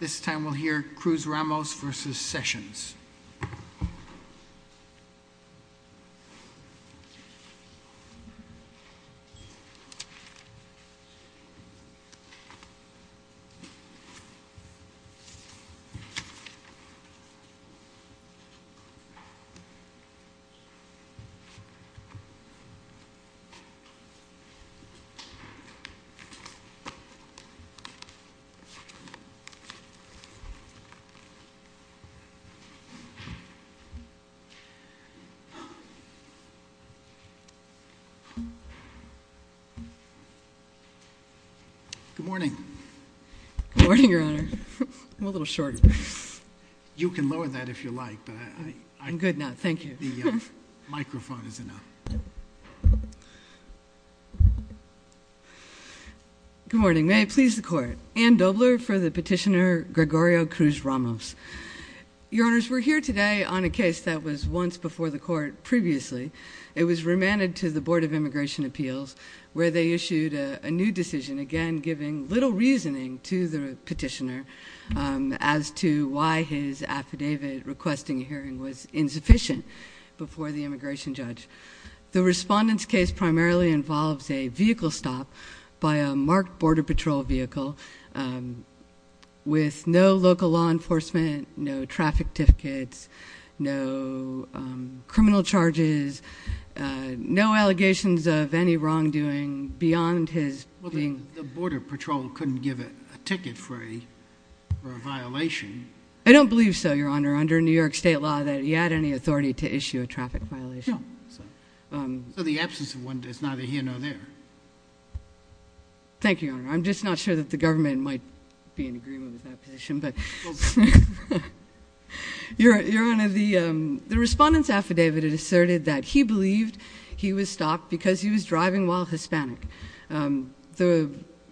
This time we'll hear Cruz-Ramos v. Sessions. Good morning, Your Honor, I'm a little short. You can lower that if you like, but I'm good now. Thank you. The microphone is enough. Good morning. May it please the Court, Ann Dobler for the petitioner, Gregorio Cruz-Ramos. Your Honors, we're here today on a case that was once before the Court previously. It was remanded to the Board of Immigration Appeals where they issued a new decision, again giving little reasoning to the petitioner as to why his affidavit requesting a hearing was insufficient before the immigration judge. The Respondent's case primarily involves a vehicle stop by a marked Border Patrol vehicle with no local law enforcement, no traffic tickets, no criminal charges, no allegations of any wrongdoing beyond his being- The Border Patrol couldn't give a ticket for a violation. I don't believe so, Your Honor, under New York State law that he had any authority to do so. So the absence of one does neither here nor there. Thank you, Your Honor. I'm just not sure that the government might be in agreement with that petition, but- Your Honor, the Respondent's affidavit asserted that he believed he was stopped because he was driving while Hispanic.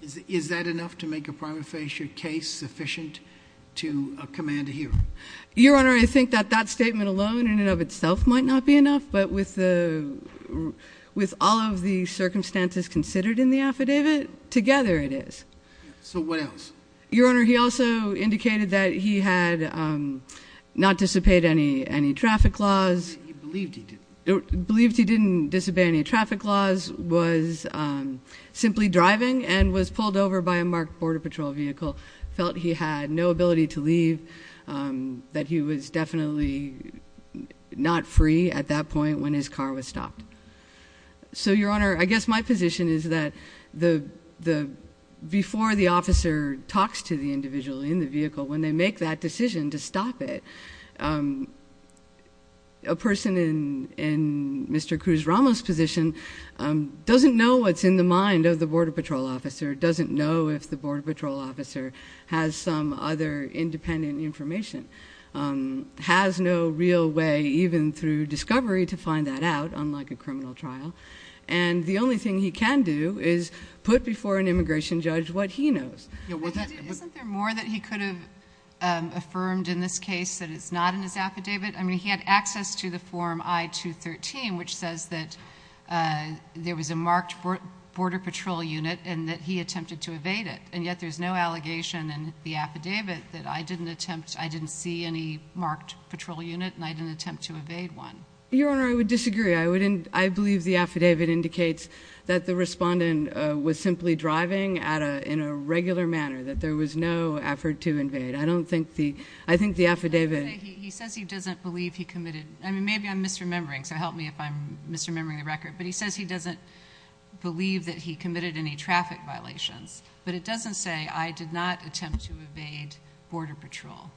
Is that enough to make a prima facie case sufficient to command a hearing? Your Honor, I think that that statement alone in and of itself might not be enough, but with all of the circumstances considered in the affidavit, together it is. So what else? Your Honor, he also indicated that he had not disobeyed any traffic laws- He believed he did. Believed he didn't disobey any traffic laws, was simply driving, and was pulled over by a marked Border Patrol vehicle, felt he had no ability to leave, that he was definitely not free at that point when his car was stopped. So Your Honor, I guess my position is that before the officer talks to the individual in the vehicle, when they make that decision to stop it, a person in Mr. Cruz-Ramos' position doesn't know what's in the mind of the Border Patrol officer, doesn't know if the Border even through discovery to find that out, unlike a criminal trial, and the only thing he can do is put before an immigration judge what he knows. Isn't there more that he could have affirmed in this case that it's not in his affidavit? I mean, he had access to the form I-213, which says that there was a marked Border Patrol unit and that he attempted to evade it, and yet there's no allegation in the affidavit that I didn't attempt, I didn't see any marked Patrol unit and I didn't attempt to evade one. Your Honor, I would disagree. I believe the affidavit indicates that the respondent was simply driving in a regular manner, that there was no effort to invade. I don't think the, I think the affidavit- He says he doesn't believe he committed, I mean, maybe I'm misremembering, so help me if I'm misremembering the record, but he says he doesn't believe that he committed any traffic violations, but it doesn't say I did not attempt to evade Border Patrol.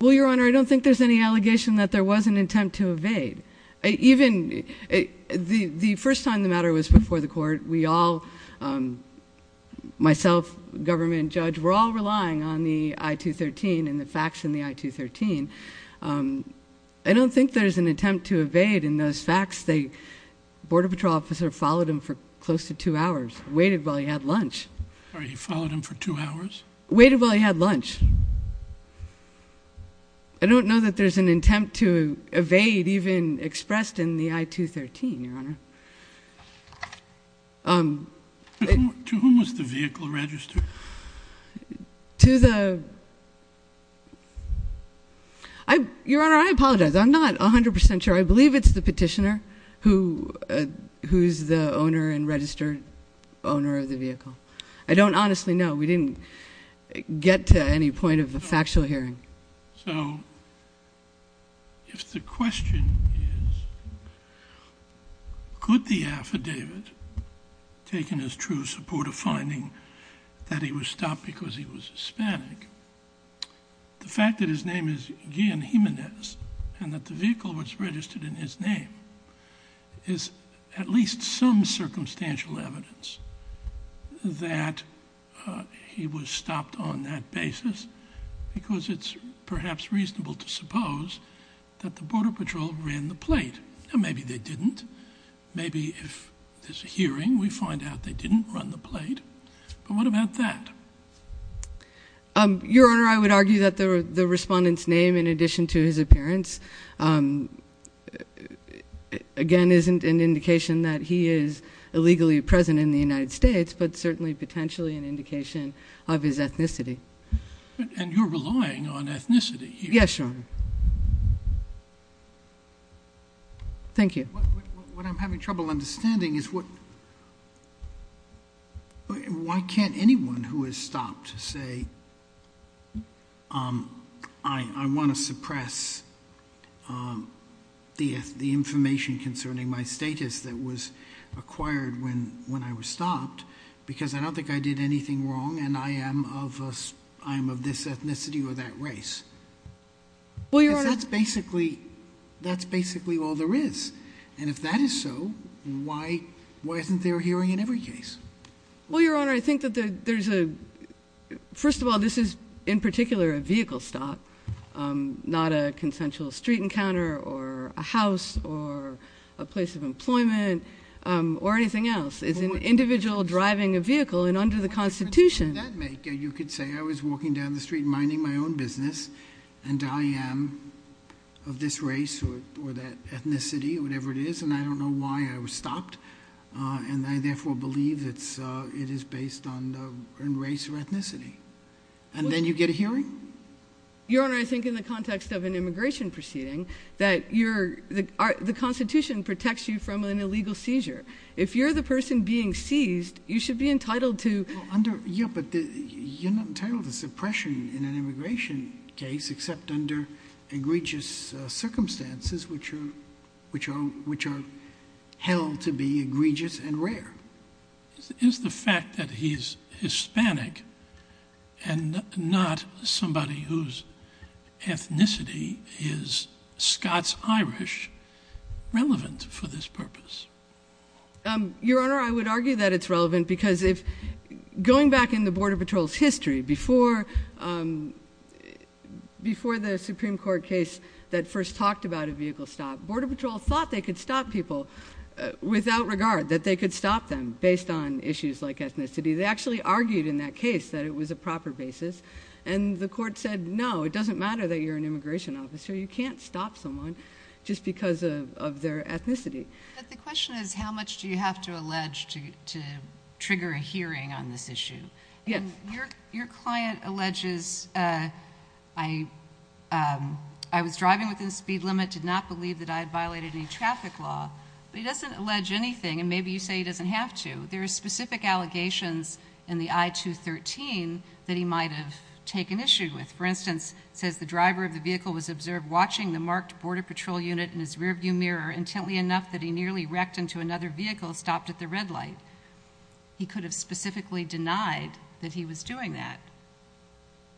Well, Your Honor, I don't think there's any allegation that there was an attempt to evade. Even the first time the matter was before the court, we all, myself, government, judge, we're all relying on the I-213 and the facts in the I-213. I don't think there's an attempt to evade in those facts, the Border Patrol officer followed him for close to two hours, waited while he had lunch. He followed him for two hours? Waited while he had lunch. I don't know that there's an attempt to evade even expressed in the I-213, Your Honor. To whom was the vehicle registered? To the, Your Honor, I apologize, I'm not 100% sure. I believe it's the petitioner who's the owner and registered owner of the vehicle. I don't honestly know. We didn't get to any point of a factual hearing. So if the question is, could the affidavit taken as true support of finding that he was stopped because he was Hispanic, the fact that his name is Guillen Jimenez and that the vehicle was registered in his name is at least some circumstantial evidence that he was stopped on that basis because it's perhaps reasonable to suppose that the Border Patrol ran the plate. Maybe they didn't. Maybe if there's a hearing, we find out they didn't run the plate, but what about that? Your Honor, I would argue that the respondent's name in addition to his appearance, again, isn't an indication that he is illegally present in the United States, but certainly potentially an indication of his ethnicity. And you're relying on ethnicity here. Yes, Your Honor. Thank you. What I'm having trouble understanding is why can't anyone who is stopped say, I want to suppress the information concerning my status that was acquired when I was stopped because I don't think I did anything wrong and I am of this ethnicity or that race? Well, Your Honor. Because that's basically all there is, and if that is so, why isn't there a hearing in every case? Well, Your Honor, I think that there's a, first of all, this is, in particular, a vehicle stop, not a consensual street encounter or a house or a place of employment or anything else. It's an individual driving a vehicle and under the Constitution. How does that make it? You could say I was walking down the street minding my own business and I am of this race or that ethnicity or whatever it is, and I don't know why I was stopped, and I therefore believe it is based on race or ethnicity. And then you get a hearing? Your Honor, I think in the context of an immigration proceeding, that the Constitution protects you from an illegal seizure. If you're the person being seized, you should be entitled to. Yeah, but you're not entitled to suppression in an immigration case except under egregious circumstances which are held to be egregious and rare. Is the fact that he's Hispanic and not somebody whose ethnicity is Scots-Irish relevant for this purpose? Your Honor, I would argue that it's relevant because going back in the Border Patrol's history before the Supreme Court case that first talked about a vehicle stop, Border Patrol thought they could stop people without regard, that they could stop them based on issues like ethnicity. They actually argued in that case that it was a proper basis and the court said, no, it doesn't matter that you're an immigration officer. You can't stop someone just because of their ethnicity. But the question is, how much do you have to allege to trigger a hearing on this issue? Your client alleges, I was driving within the speed limit, did not believe that I had violated any traffic law, but he doesn't allege anything and maybe you say he doesn't have to. There are specific allegations in the I-213 that he might have taken issue with. For instance, it says the driver of the vehicle was observed watching the marked Border Patrol unit in his rear view mirror intently enough that he nearly wrecked into another vehicle and stopped at the red light. He could have specifically denied that he was doing that.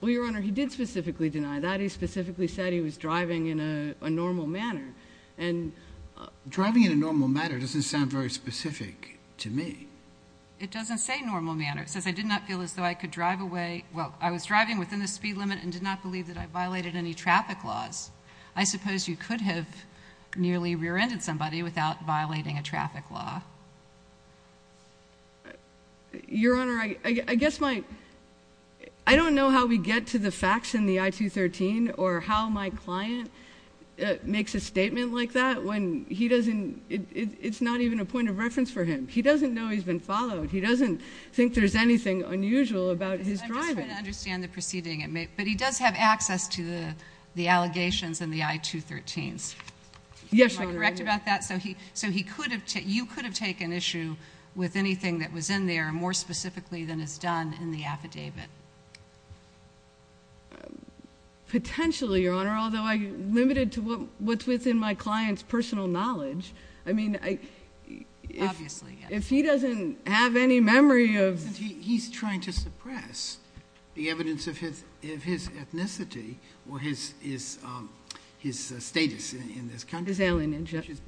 Well, Your Honor, he did specifically deny that. He specifically said he was driving in a normal manner. Driving in a normal manner doesn't sound very specific to me. It doesn't say normal manner. It says I did not feel as though I could drive away, well, I was driving within the speed limit and did not believe that I violated any traffic laws. I suppose you could have nearly rear-ended somebody without violating a traffic law. Your Honor, I guess my, I don't know how we get to the facts in the I-213 or how my client makes a statement like that when he doesn't, it's not even a point of reference for him. He doesn't know he's been followed. He doesn't think there's anything unusual about his driving. I'm just trying to understand the proceeding, but he does have access to the allegations in the I-213s. Yes, Your Honor. Am I correct about that? So he could have, you could have taken issue with anything that was in there more specifically than is done in the affidavit. Potentially, Your Honor, although I'm limited to what's within my client's personal knowledge. I mean, if he doesn't have any memory of. He's trying to suppress the evidence of his, of his ethnicity or his, his, his status in this country. His alienage. His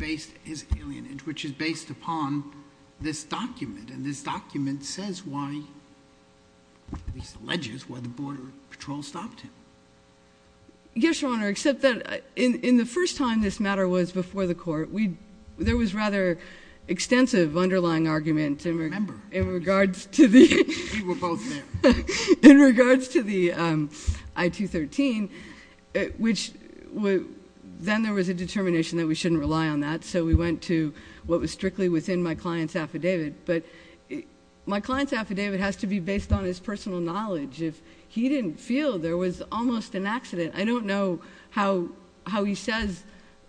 alienage, which is based upon this document and this document says why, at least alleges why the border patrol stopped him. Yes, Your Honor, except that in, in the first time this matter was before the court, we, there was rather extensive underlying argument in regards to the- I remember. We were both there. In regards to the I-213, which then there was a determination that we shouldn't rely on that. So we went to what was strictly within my client's affidavit, but my client's affidavit has to be based on his personal knowledge. If he didn't feel there was almost an accident, I don't know how, how he says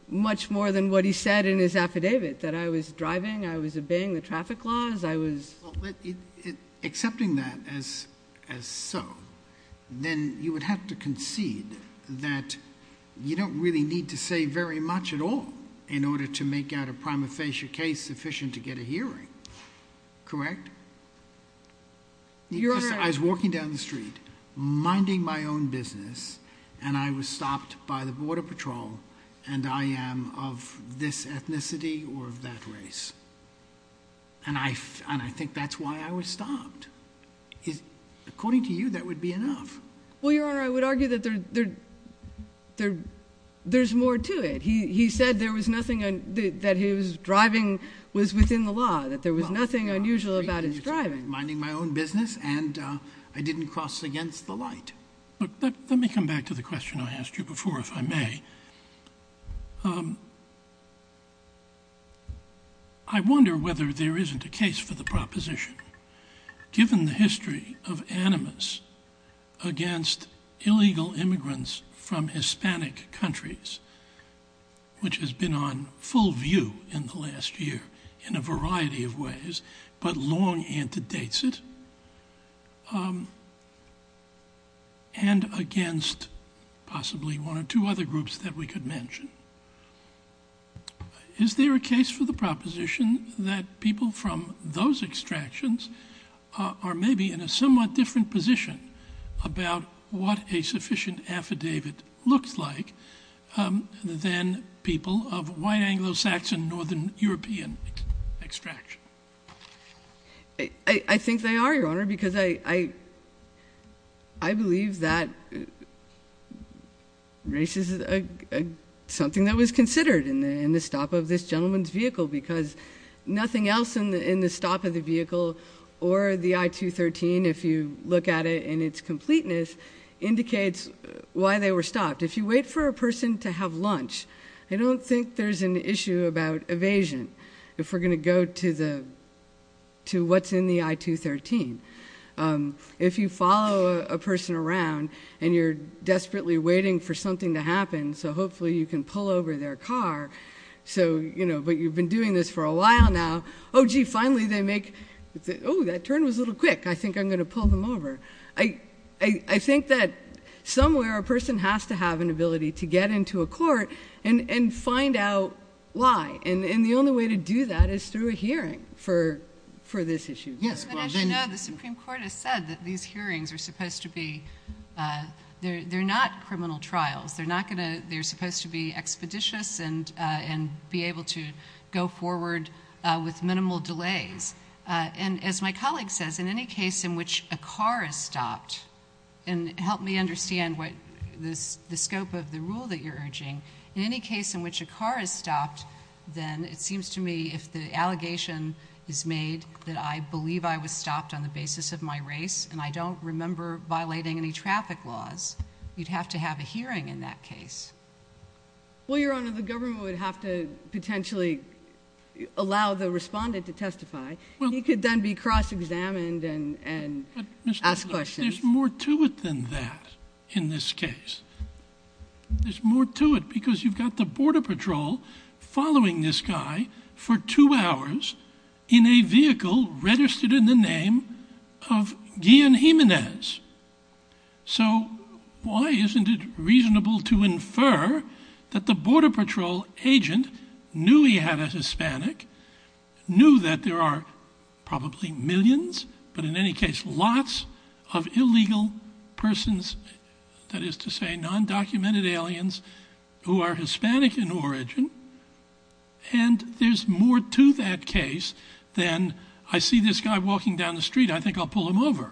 much more than what he said in his affidavit, that I was driving, I was obeying the traffic laws, I was- Accepting that as, as so, then you would have to concede that you don't really need to say very much at all in order to make out a prima facie case sufficient to get a hearing. Correct? Your Honor- I was walking down the street, minding my own business, and I was stopped by the border patrol, and I am of this ethnicity or of that race, and I, and I think that's why I was stopped. According to you, that would be enough. Well, Your Honor, I would argue that there, there, there, there's more to it. He said there was nothing, that his driving was within the law, that there was nothing unusual about his driving. Minding my own business, and I didn't cross against the light. Look, let, let me come back to the question I asked you before, if I may. I wonder whether there isn't a case for the proposition, given the history of animus against illegal immigrants from Hispanic countries, which has been on full view in the last year in a variety of ways, but long antedates it, and against possibly one or two other groups that we could mention. Is there a case for the proposition that people from those extractions are maybe in a somewhat different position about what a sufficient affidavit looks like than people of white Anglo-Saxon, Northern European extraction? I think they are, Your Honor, because I, I, I believe that race is something that was considered in the stop of this gentleman's vehicle, because nothing else in the stop of the vehicle or the I-213, if you look at it in its completeness, indicates why they were stopped. If you wait for a person to have lunch, I don't think there's an issue about evasion, if we're going to go to the, to what's in the I-213. If you follow a person around, and you're desperately waiting for something to happen, so hopefully you can pull over their car, so, you know, but you've been doing this for a while now, oh gee, finally they make, oh, that turn was a little quick, I think I'm going to pull them over. I, I, I think that somewhere a person has to have an ability to get into a court and, and find out why, and, and the only way to do that is through a hearing for, for this issue. But as you know, the Supreme Court has said that these hearings are supposed to be, they're, they're not criminal trials, they're not going to, they're supposed to be expeditious and, and be able to go forward with minimal delays, and as my colleague says, in any case in which a car is stopped, and help me understand what this, the scope of the rule that you're urging, in any case in which a car is stopped, then it seems to me if the allegation is made that I believe I was stopped on the basis of my race, and I don't remember violating any traffic laws, you'd have to have a hearing in that case. Well, Your Honor, the government would have to potentially allow the respondent to testify. He could then be cross-examined and, and ask questions. But Mr. Miller, there's more to it than that in this case. There's more to it because you've got the Border Patrol following this guy for two hours in a vehicle registered in the name of Guillen Jimenez. So why isn't it reasonable to infer that the Border Patrol agent knew he had a Hispanic, knew that there are probably millions, but in any case, lots of illegal persons, that is to say, non-documented aliens who are Hispanic in origin, and there's more to that case than I see this guy walking down the street, I think I'll pull him over.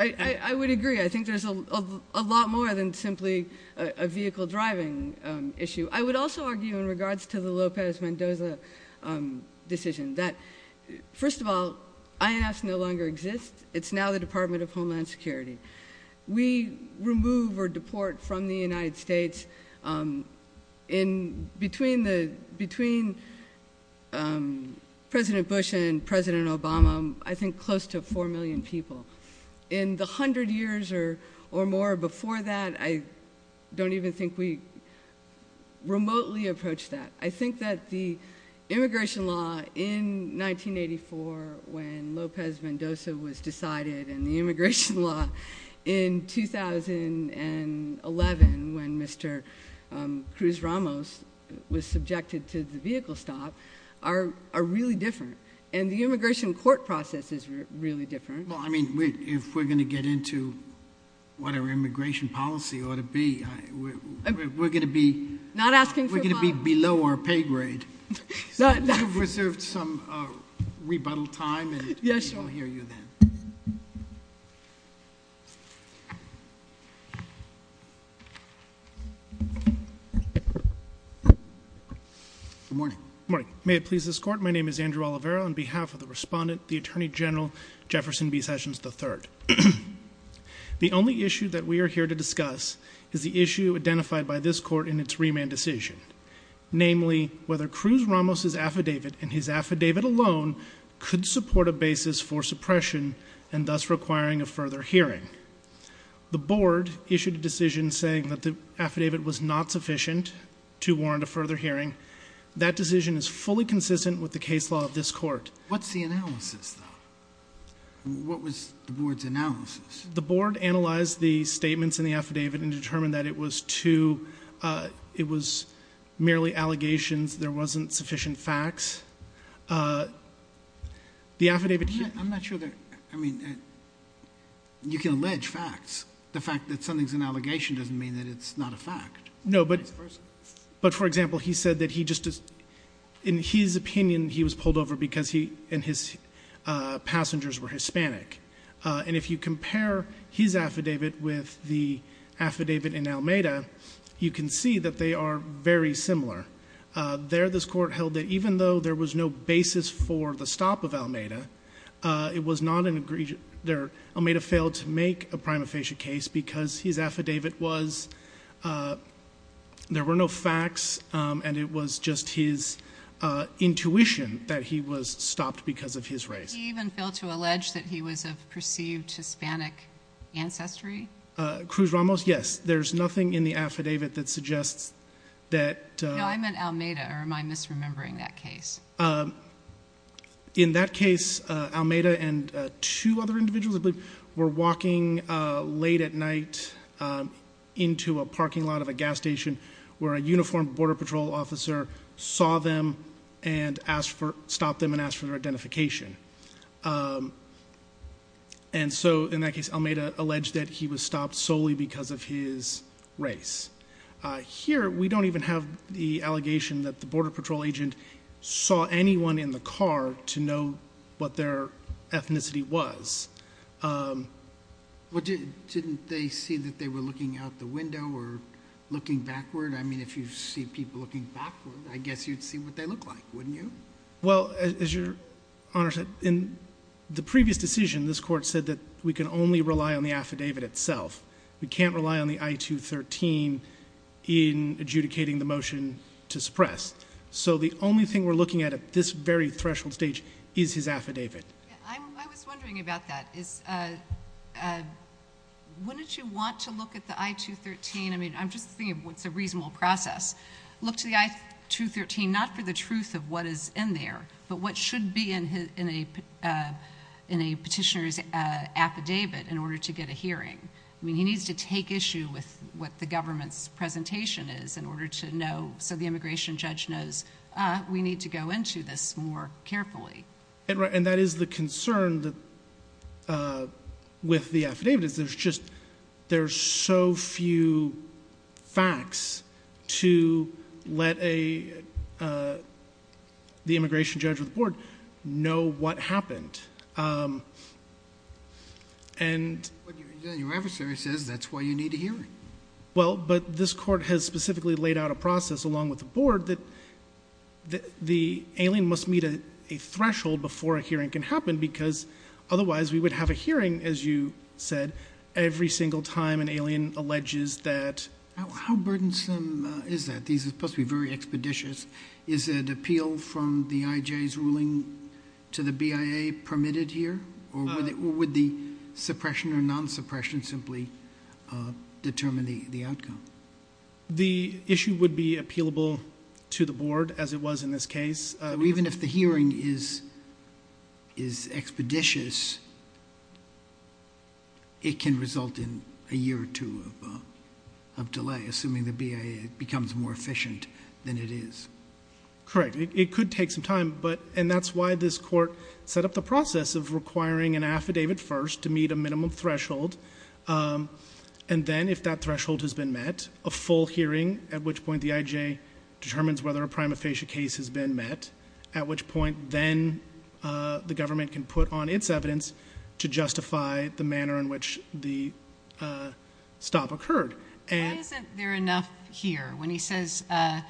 I would agree. I think there's a lot more than simply a vehicle driving issue. I would also argue in regards to the Lopez-Mendoza decision that, first of all, INFs no longer exist. It's now the Department of Homeland Security. We remove or deport from the United States, between President Bush and President Obama, I think close to 4 million people. In the 100 years or more before that, I don't even think we remotely approached that. I think that the immigration law in 1984 when Lopez-Mendoza was decided and the immigration law in 2011 when Mr. Cruz Ramos was subjected to the vehicle stop are really different. And the immigration court process is really different. Well, I mean, if we're going to get into what our immigration policy ought to be, we're going to be- Not asking for money. We're going to be below our pay grade. So if you've reserved some rebuttal time and we'll hear you then. Yes, sure. Good morning. Good morning. May it please this court, my name is Andrew Oliveira. On behalf of the respondent, the Attorney General, Jefferson B. Sessions III. The only issue that we are here to discuss is the issue identified by this court in its remand decision. Namely, whether Cruz Ramos' affidavit and his affidavit alone could support a basis for suppression and thus requiring a further hearing. The board issued a decision saying that the affidavit was not sufficient to warrant a further hearing. That decision is fully consistent with the case law of this court. What's the analysis, though? What was the board's analysis? The board analyzed the statements in the affidavit and determined that it was merely allegations. There wasn't sufficient facts. The affidavit- I'm not sure that, I mean, you can allege facts. The fact that something's an allegation doesn't mean that it's not a fact. No, but for example, he said that he just, in his opinion, he was pulled over because he and his passengers were Hispanic. And if you compare his affidavit with the affidavit in Almeda, you can see that they are very similar. There, this court held that even though there was no basis for the stop of Almeda, it was not an agree, Almeda failed to make a prima facie case because his affidavit was there were no facts, and it was just his intuition that he was stopped because of his race. He even failed to allege that he was of perceived Hispanic ancestry. Cruz Ramos, yes. There's nothing in the affidavit that suggests that- No, I meant Almeda, or am I misremembering that case? In that case, Almeda and two other individuals, I believe, were walking late at night into a parking lot of a gas station where a uniformed border patrol officer saw them and stopped them and asked for their identification. And so, in that case, Almeda alleged that he was stopped solely because of his race. Here, we don't even have the allegation that the border patrol agent saw anyone in the car to know what their ethnicity was. Well, didn't they see that they were looking out the window or looking backward? I mean, if you see people looking backward, I guess you'd see what they look like, wouldn't you? Well, as your Honor said, in the previous decision, this court said that we can only rely on the affidavit itself. We can't rely on the I-213 in adjudicating the motion to suppress. So the only thing we're looking at at this very threshold stage is his affidavit. I was wondering about that. Wouldn't you want to look at the I-213? I mean, I'm just thinking what's a reasonable process. Look to the I-213, not for the truth of what is in there, but what should be in a petitioner's affidavit in order to get a hearing. I mean, he needs to take issue with what the government's presentation is in order to know, so the immigration judge knows we need to go into this more carefully. And that is the concern with the affidavit is there's just, there's so few facts to let the immigration judge or the board know what happened. And- But your adversary says that's why you need a hearing. Well, but this court has specifically laid out a process along with the board that the alien must meet a threshold before a hearing can happen because otherwise we would have a hearing, as you said, every single time an alien alleges that- How burdensome is that? These are supposed to be very expeditious. Is it appeal from the IJ's ruling to the BIA permitted here? Or would the suppression or non-suppression simply determine the outcome? The issue would be appealable to the board as it was in this case. Even if the hearing is expeditious, it can result in a year or two of delay, assuming the BIA becomes more efficient than it is. Correct, it could take some time, and that's why this court set up the process of requiring an affidavit first to meet a minimum threshold. And then if that threshold has been met, a full hearing, at which point the IJ determines whether a prima facie case has been met. At which point, then the government can put on its evidence to justify the manner in which the stop occurred. And- Why isn't there enough here when he says, I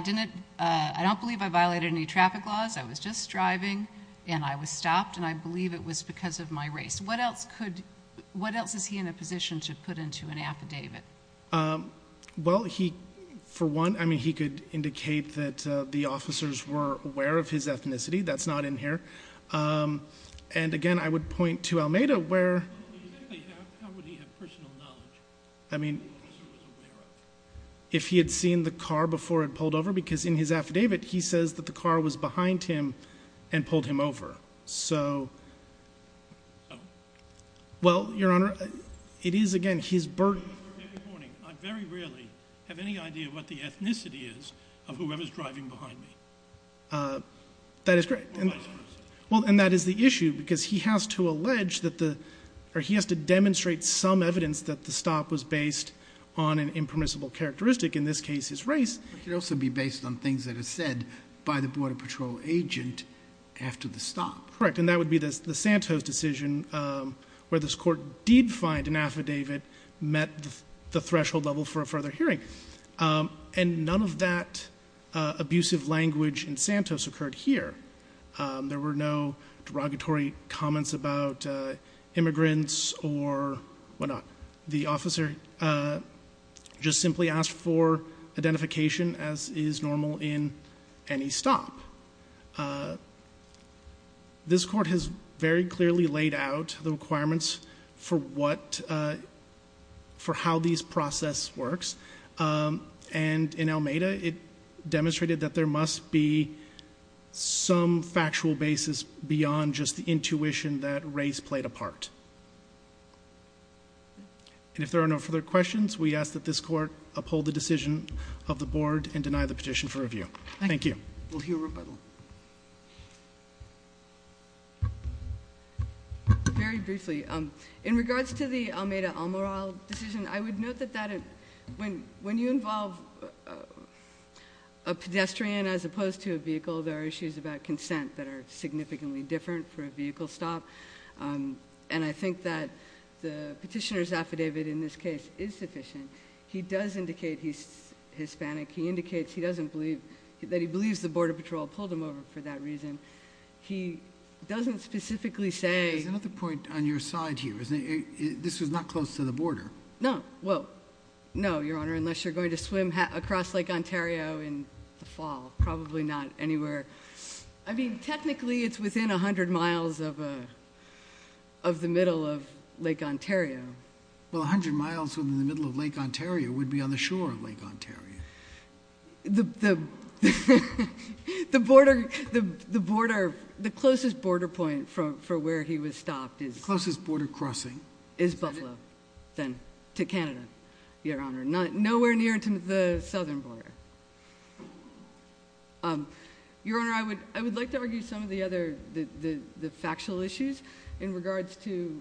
don't believe I violated any traffic laws. I was just driving and I was stopped and I believe it was because of my race. What else could, what else is he in a position to put into an affidavit? Well, he, for one, I mean, he could indicate that the officers were aware of his ethnicity. That's not in here. And again, I would point to Almeda where- How would he have personal knowledge? I mean, if he had seen the car before it pulled over, because in his affidavit he says that the car was behind him and pulled him over. So, well, Your Honor, it is, again, his burden- I'm very rarely, have any idea what the ethnicity is of whoever's driving behind me. That is correct. Or vice versa. Well, and that is the issue, because he has to allege that the, or he has to demonstrate some evidence that the stop was based on an impermissible characteristic. In this case, his race. It could also be based on things that are said by the border patrol agent after the stop. Correct, and that would be the Santos decision where this court did find an affidavit met the threshold level for a further hearing. And none of that abusive language in Santos occurred here. There were no derogatory comments about immigrants or whatnot. The officer just simply asked for identification as is normal in any stop. This court has very clearly laid out the requirements for what, for how these process works. And in Almeda, it demonstrated that there must be some factual basis beyond just the intuition that race played a part. And if there are no further questions, we ask that this court uphold the decision of the board and deny the petition for review. Thank you. We'll hear a rebuttal. Very briefly, in regards to the Almeda-Almeral decision, I would note that that, when you involve a pedestrian as opposed to a vehicle, there are issues about consent that are significantly different for a vehicle stop. And I think that the petitioner's affidavit in this case is sufficient. He does indicate he's Hispanic. He indicates that he believes the border patrol pulled him over for that reason. He doesn't specifically say- There's another point on your side here. This was not close to the border. No, well, no, your honor, unless you're going to swim across Lake Ontario in the fall, probably not anywhere. I mean, technically, it's within 100 miles of the middle of Lake Ontario. Well, 100 miles within the middle of Lake Ontario would be on the shore of Lake Ontario. The closest border point for where he was stopped is- Closest border crossing. Is Buffalo, then, to Canada, your honor. Nowhere near to the southern border. Your honor, I would like to argue some of the other, the factual issues in regards to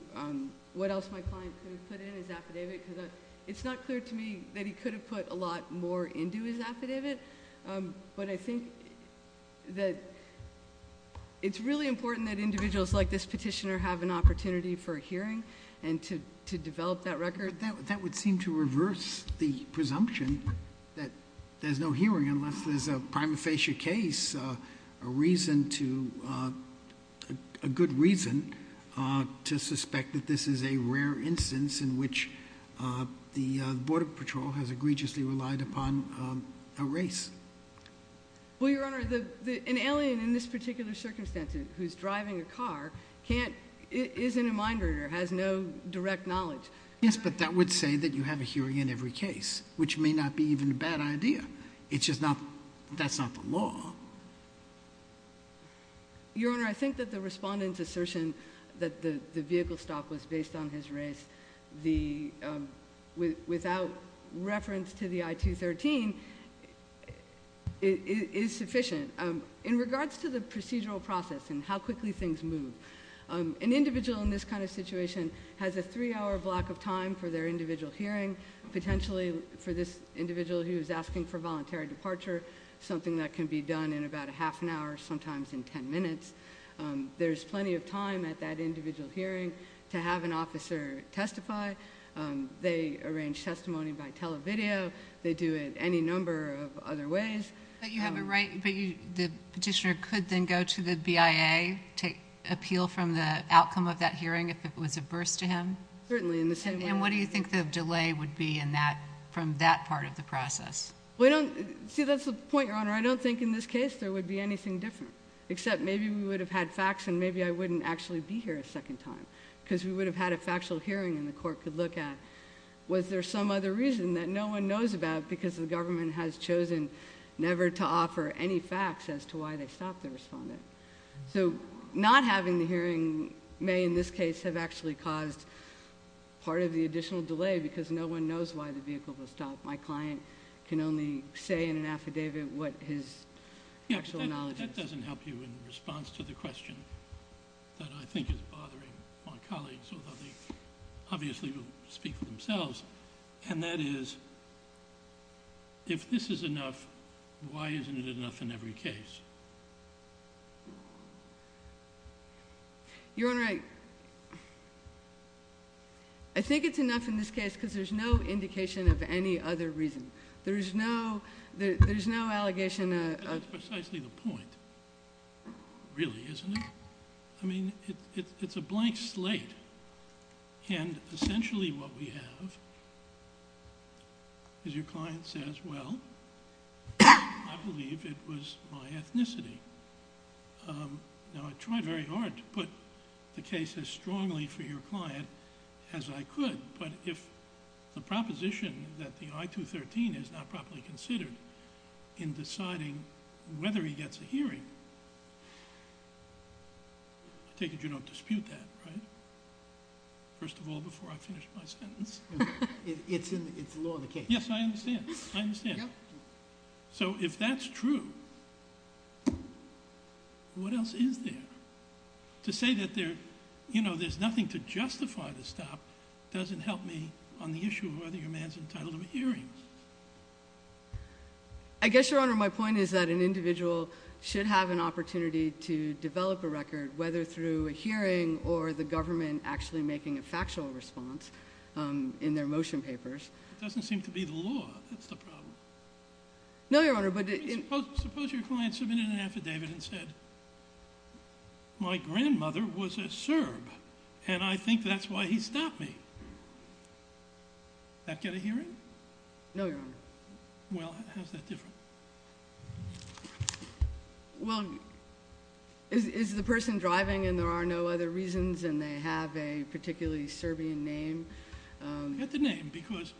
what else my client could have put in his affidavit. It's not clear to me that he could have put a lot more into his affidavit, but I think that it's really important that individuals like this petitioner have an opportunity for hearing and to develop that record. That would seem to reverse the presumption that there's no hearing unless there's a prima facie case, a reason to, a good reason to suspect that this is a rare instance in which the border patrol has egregiously relied upon a race. Well, your honor, an alien in this particular circumstance who's driving a car can't, is in a mind reader, has no direct knowledge. Yes, but that would say that you have a hearing in every case, which may not be even a bad idea. It's just not, that's not the law. Your honor, I think that the respondent's assertion that the vehicle stop was based on his race, the, without reference to the I-213, is sufficient. In regards to the procedural process and how quickly things move, an individual in this kind of situation has a three hour block of time for their individual hearing, potentially for this individual who's asking for voluntary departure, something that can be done in about a half an hour, sometimes in ten minutes. There's plenty of time at that individual hearing to have an officer testify. They arrange testimony by televideo, they do it any number of other ways. But you have a right, but the petitioner could then go to the BIA to appeal from the outcome of that hearing if it was a burst to him? Certainly, in the same way. And what do you think the delay would be in that, from that part of the process? Well, I don't, see, that's the point, your honor. I don't think in this case there would be anything different, except maybe we would have had facts and maybe I wouldn't actually be here a second time, because we would have had a factual hearing and the court could look at. Was there some other reason that no one knows about because the government has chosen never to offer any facts as to why they stopped the respondent? So not having the hearing may in this case have actually caused part of the additional delay because no one knows why the vehicle was stopped. My client can only say in an affidavit what his actual knowledge is. This doesn't help you in response to the question that I think is bothering my colleagues, although they obviously will speak for themselves. And that is, if this is enough, why isn't it enough in every case? Your Honor, I think it's enough in this case because there's no indication of any other reason. There's no, there's no allegation of- That's precisely the point, really, isn't it? I mean, it's a blank slate, and essentially what we have is your client says, well, I believe it was my ethnicity. Now, I tried very hard to put the case as strongly for your client as I could, but if the proposition that the I-213 is not properly considered in deciding whether he gets a hearing, I take it you don't dispute that, right? First of all, before I finish my sentence. It's law of the case. Yes, I understand. I understand. So if that's true, what else is there? To say that there's nothing to justify the stop doesn't help me on the issue of whether your man's entitled to a hearing. I guess, Your Honor, my point is that an individual should have an opportunity to develop a record, whether through a hearing or the government actually making a factual response in their motion papers. It doesn't seem to be the law, that's the problem. No, Your Honor, but- Suppose your client submitted an affidavit and said, my grandmother was a Serb, and I think that's why he stopped me. That get a hearing? No, Your Honor. Well, how's that different? Well, is the person driving, and there are no other reasons, and they have a particularly Serbian name? Get the name, because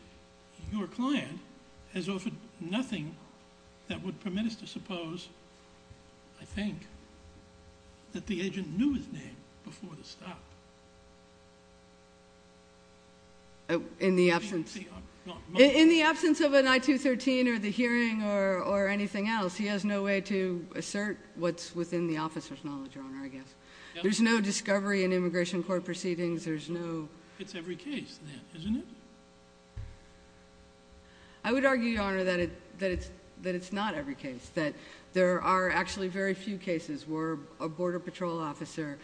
your client has offered nothing that would permit us to suppose, I think, that the agent knew his name before the stop. In the absence of an I-213 or the hearing or anything else, he has no way to assert what's within the officer's knowledge, Your Honor, I guess. There's no discovery in immigration court proceedings, there's no- It's every case then, isn't it? I would argue, Your Honor, that it's not every case, that there are actually very few cases where a border patrol officer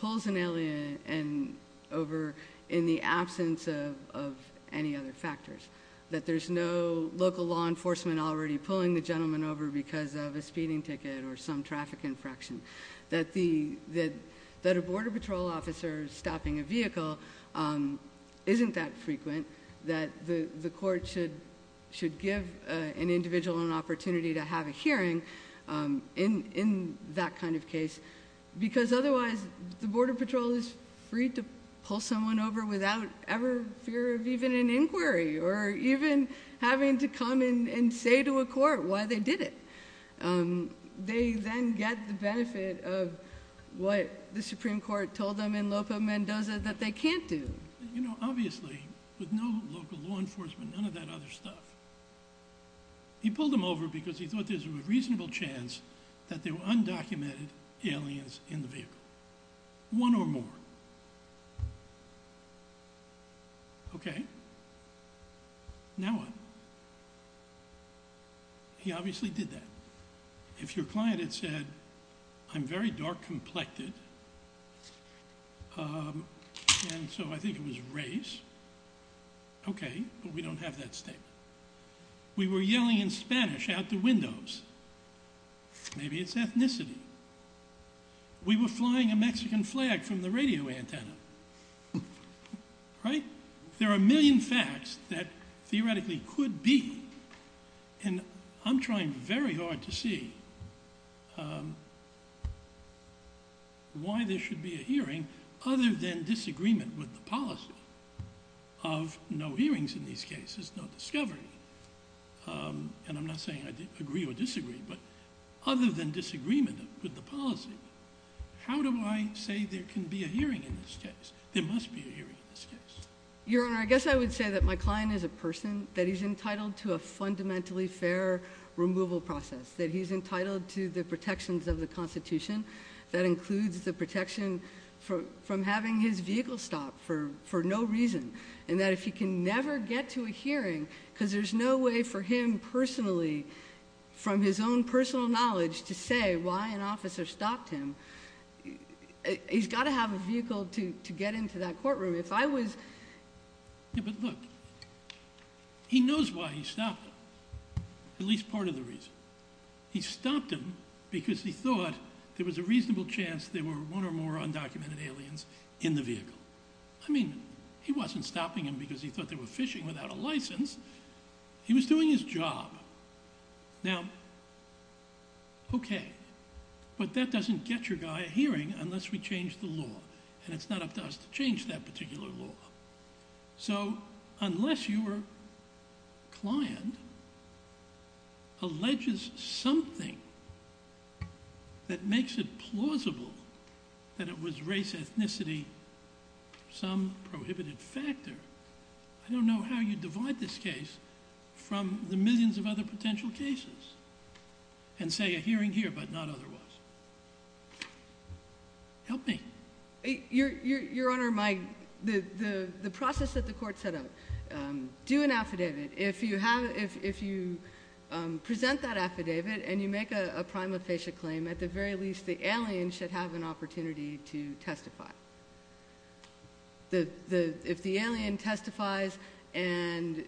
pulls an alien over in the absence of any other factors. That there's no local law enforcement already pulling the gentleman over because of a speeding ticket or some traffic infraction. That a border patrol officer stopping a vehicle isn't that frequent, that the court should give an individual an opportunity to have a hearing in that kind of case. Because otherwise, the border patrol is free to pull someone over without ever fear of even an inquiry, or even having to come and say to a court why they did it. They then get the benefit of what the Supreme Court told them in Lopo Mendoza that they can't do. You know, obviously, with no local law enforcement, none of that other stuff, he pulled him over because he thought there's a reasonable chance that there were undocumented aliens in the vehicle. One or more. Okay, now what? He obviously did that. If your client had said, I'm very dark complected, and so I think it was race, okay, but we don't have that statement. We were yelling in Spanish out the windows, maybe it's ethnicity. We were flying a Mexican flag from the radio antenna, right? There are a million facts that theoretically could be, and I'm trying very hard to see why there should be a hearing other than disagreement with the policy of no hearings in these cases, no discovery. And I'm not saying I agree or disagree, but other than disagreement with the policy, how do I say there can be a hearing in this case? There must be a hearing in this case. Your Honor, I guess I would say that my client is a person, that he's entitled to a fundamentally fair removal process. That he's entitled to the protections of the Constitution. That includes the protection from having his vehicle stopped for no reason. And that if he can never get to a hearing, because there's no way for him personally, from his own personal knowledge, to say why an officer stopped him. He's gotta have a vehicle to get into that courtroom. If I was- Yeah, but look, he knows why he stopped him, at least part of the reason. He stopped him because he thought there was a reasonable chance there were one or more undocumented aliens in the vehicle. I mean, he wasn't stopping him because he thought they were fishing without a license. He was doing his job. Now, okay, but that doesn't get your guy a hearing unless we change the law. And it's not up to us to change that particular law. So, unless your client alleges something that makes it plausible that it was race, ethnicity, some prohibited factor. I don't know how you divide this case from the millions of other potential cases. And say a hearing here, but not otherwise. Help me. Your Honor, the process that the court set up. Do an affidavit. If you present that affidavit and you make a prima facie claim, at the very least the alien should have an opportunity to testify. If the alien testifies and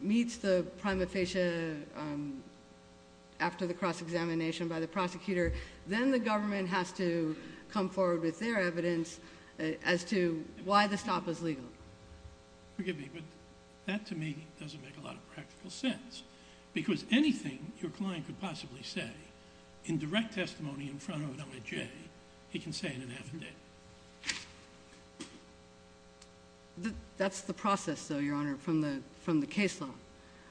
meets the prima facie after the cross examination by the prosecutor. Then the government has to come forward with their evidence as to why the stop was legal. Forgive me, but that to me doesn't make a lot of practical sense. Because anything your client could possibly say in direct testimony in front of an LAJ, he can say it in an affidavit. That's the process though, Your Honor, from the case law.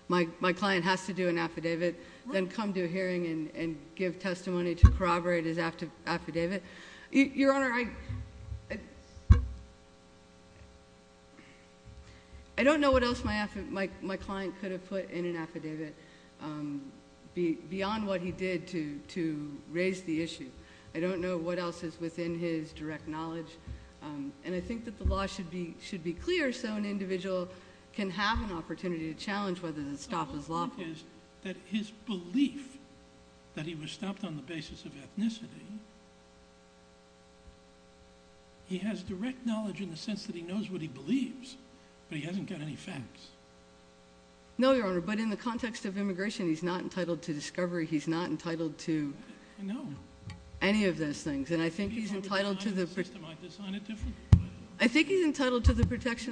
My client has to do an affidavit, then come to a hearing and give testimony to corroborate his affidavit. Your Honor, I don't know what else my client could have put in an affidavit. Beyond what he did to raise the issue. I don't know what else is within his direct knowledge. And I think that the law should be clear so an individual can have an opportunity to challenge whether the stop is lawful. That his belief that he was stopped on the basis of ethnicity. He has direct knowledge in the sense that he knows what he believes. But he hasn't got any facts. No, Your Honor, but in the context of immigration, he's not entitled to discovery. He's not entitled to any of those things. And I think he's entitled to the protection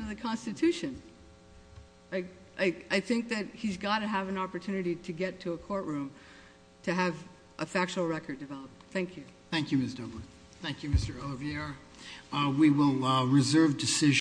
of the Constitution. I think that he's gotta have an opportunity to get to a courtroom. To have a factual record developed. Thank you. Thank you, Ms. Dobler. Thank you, Mr. OVR. We will reserve decision.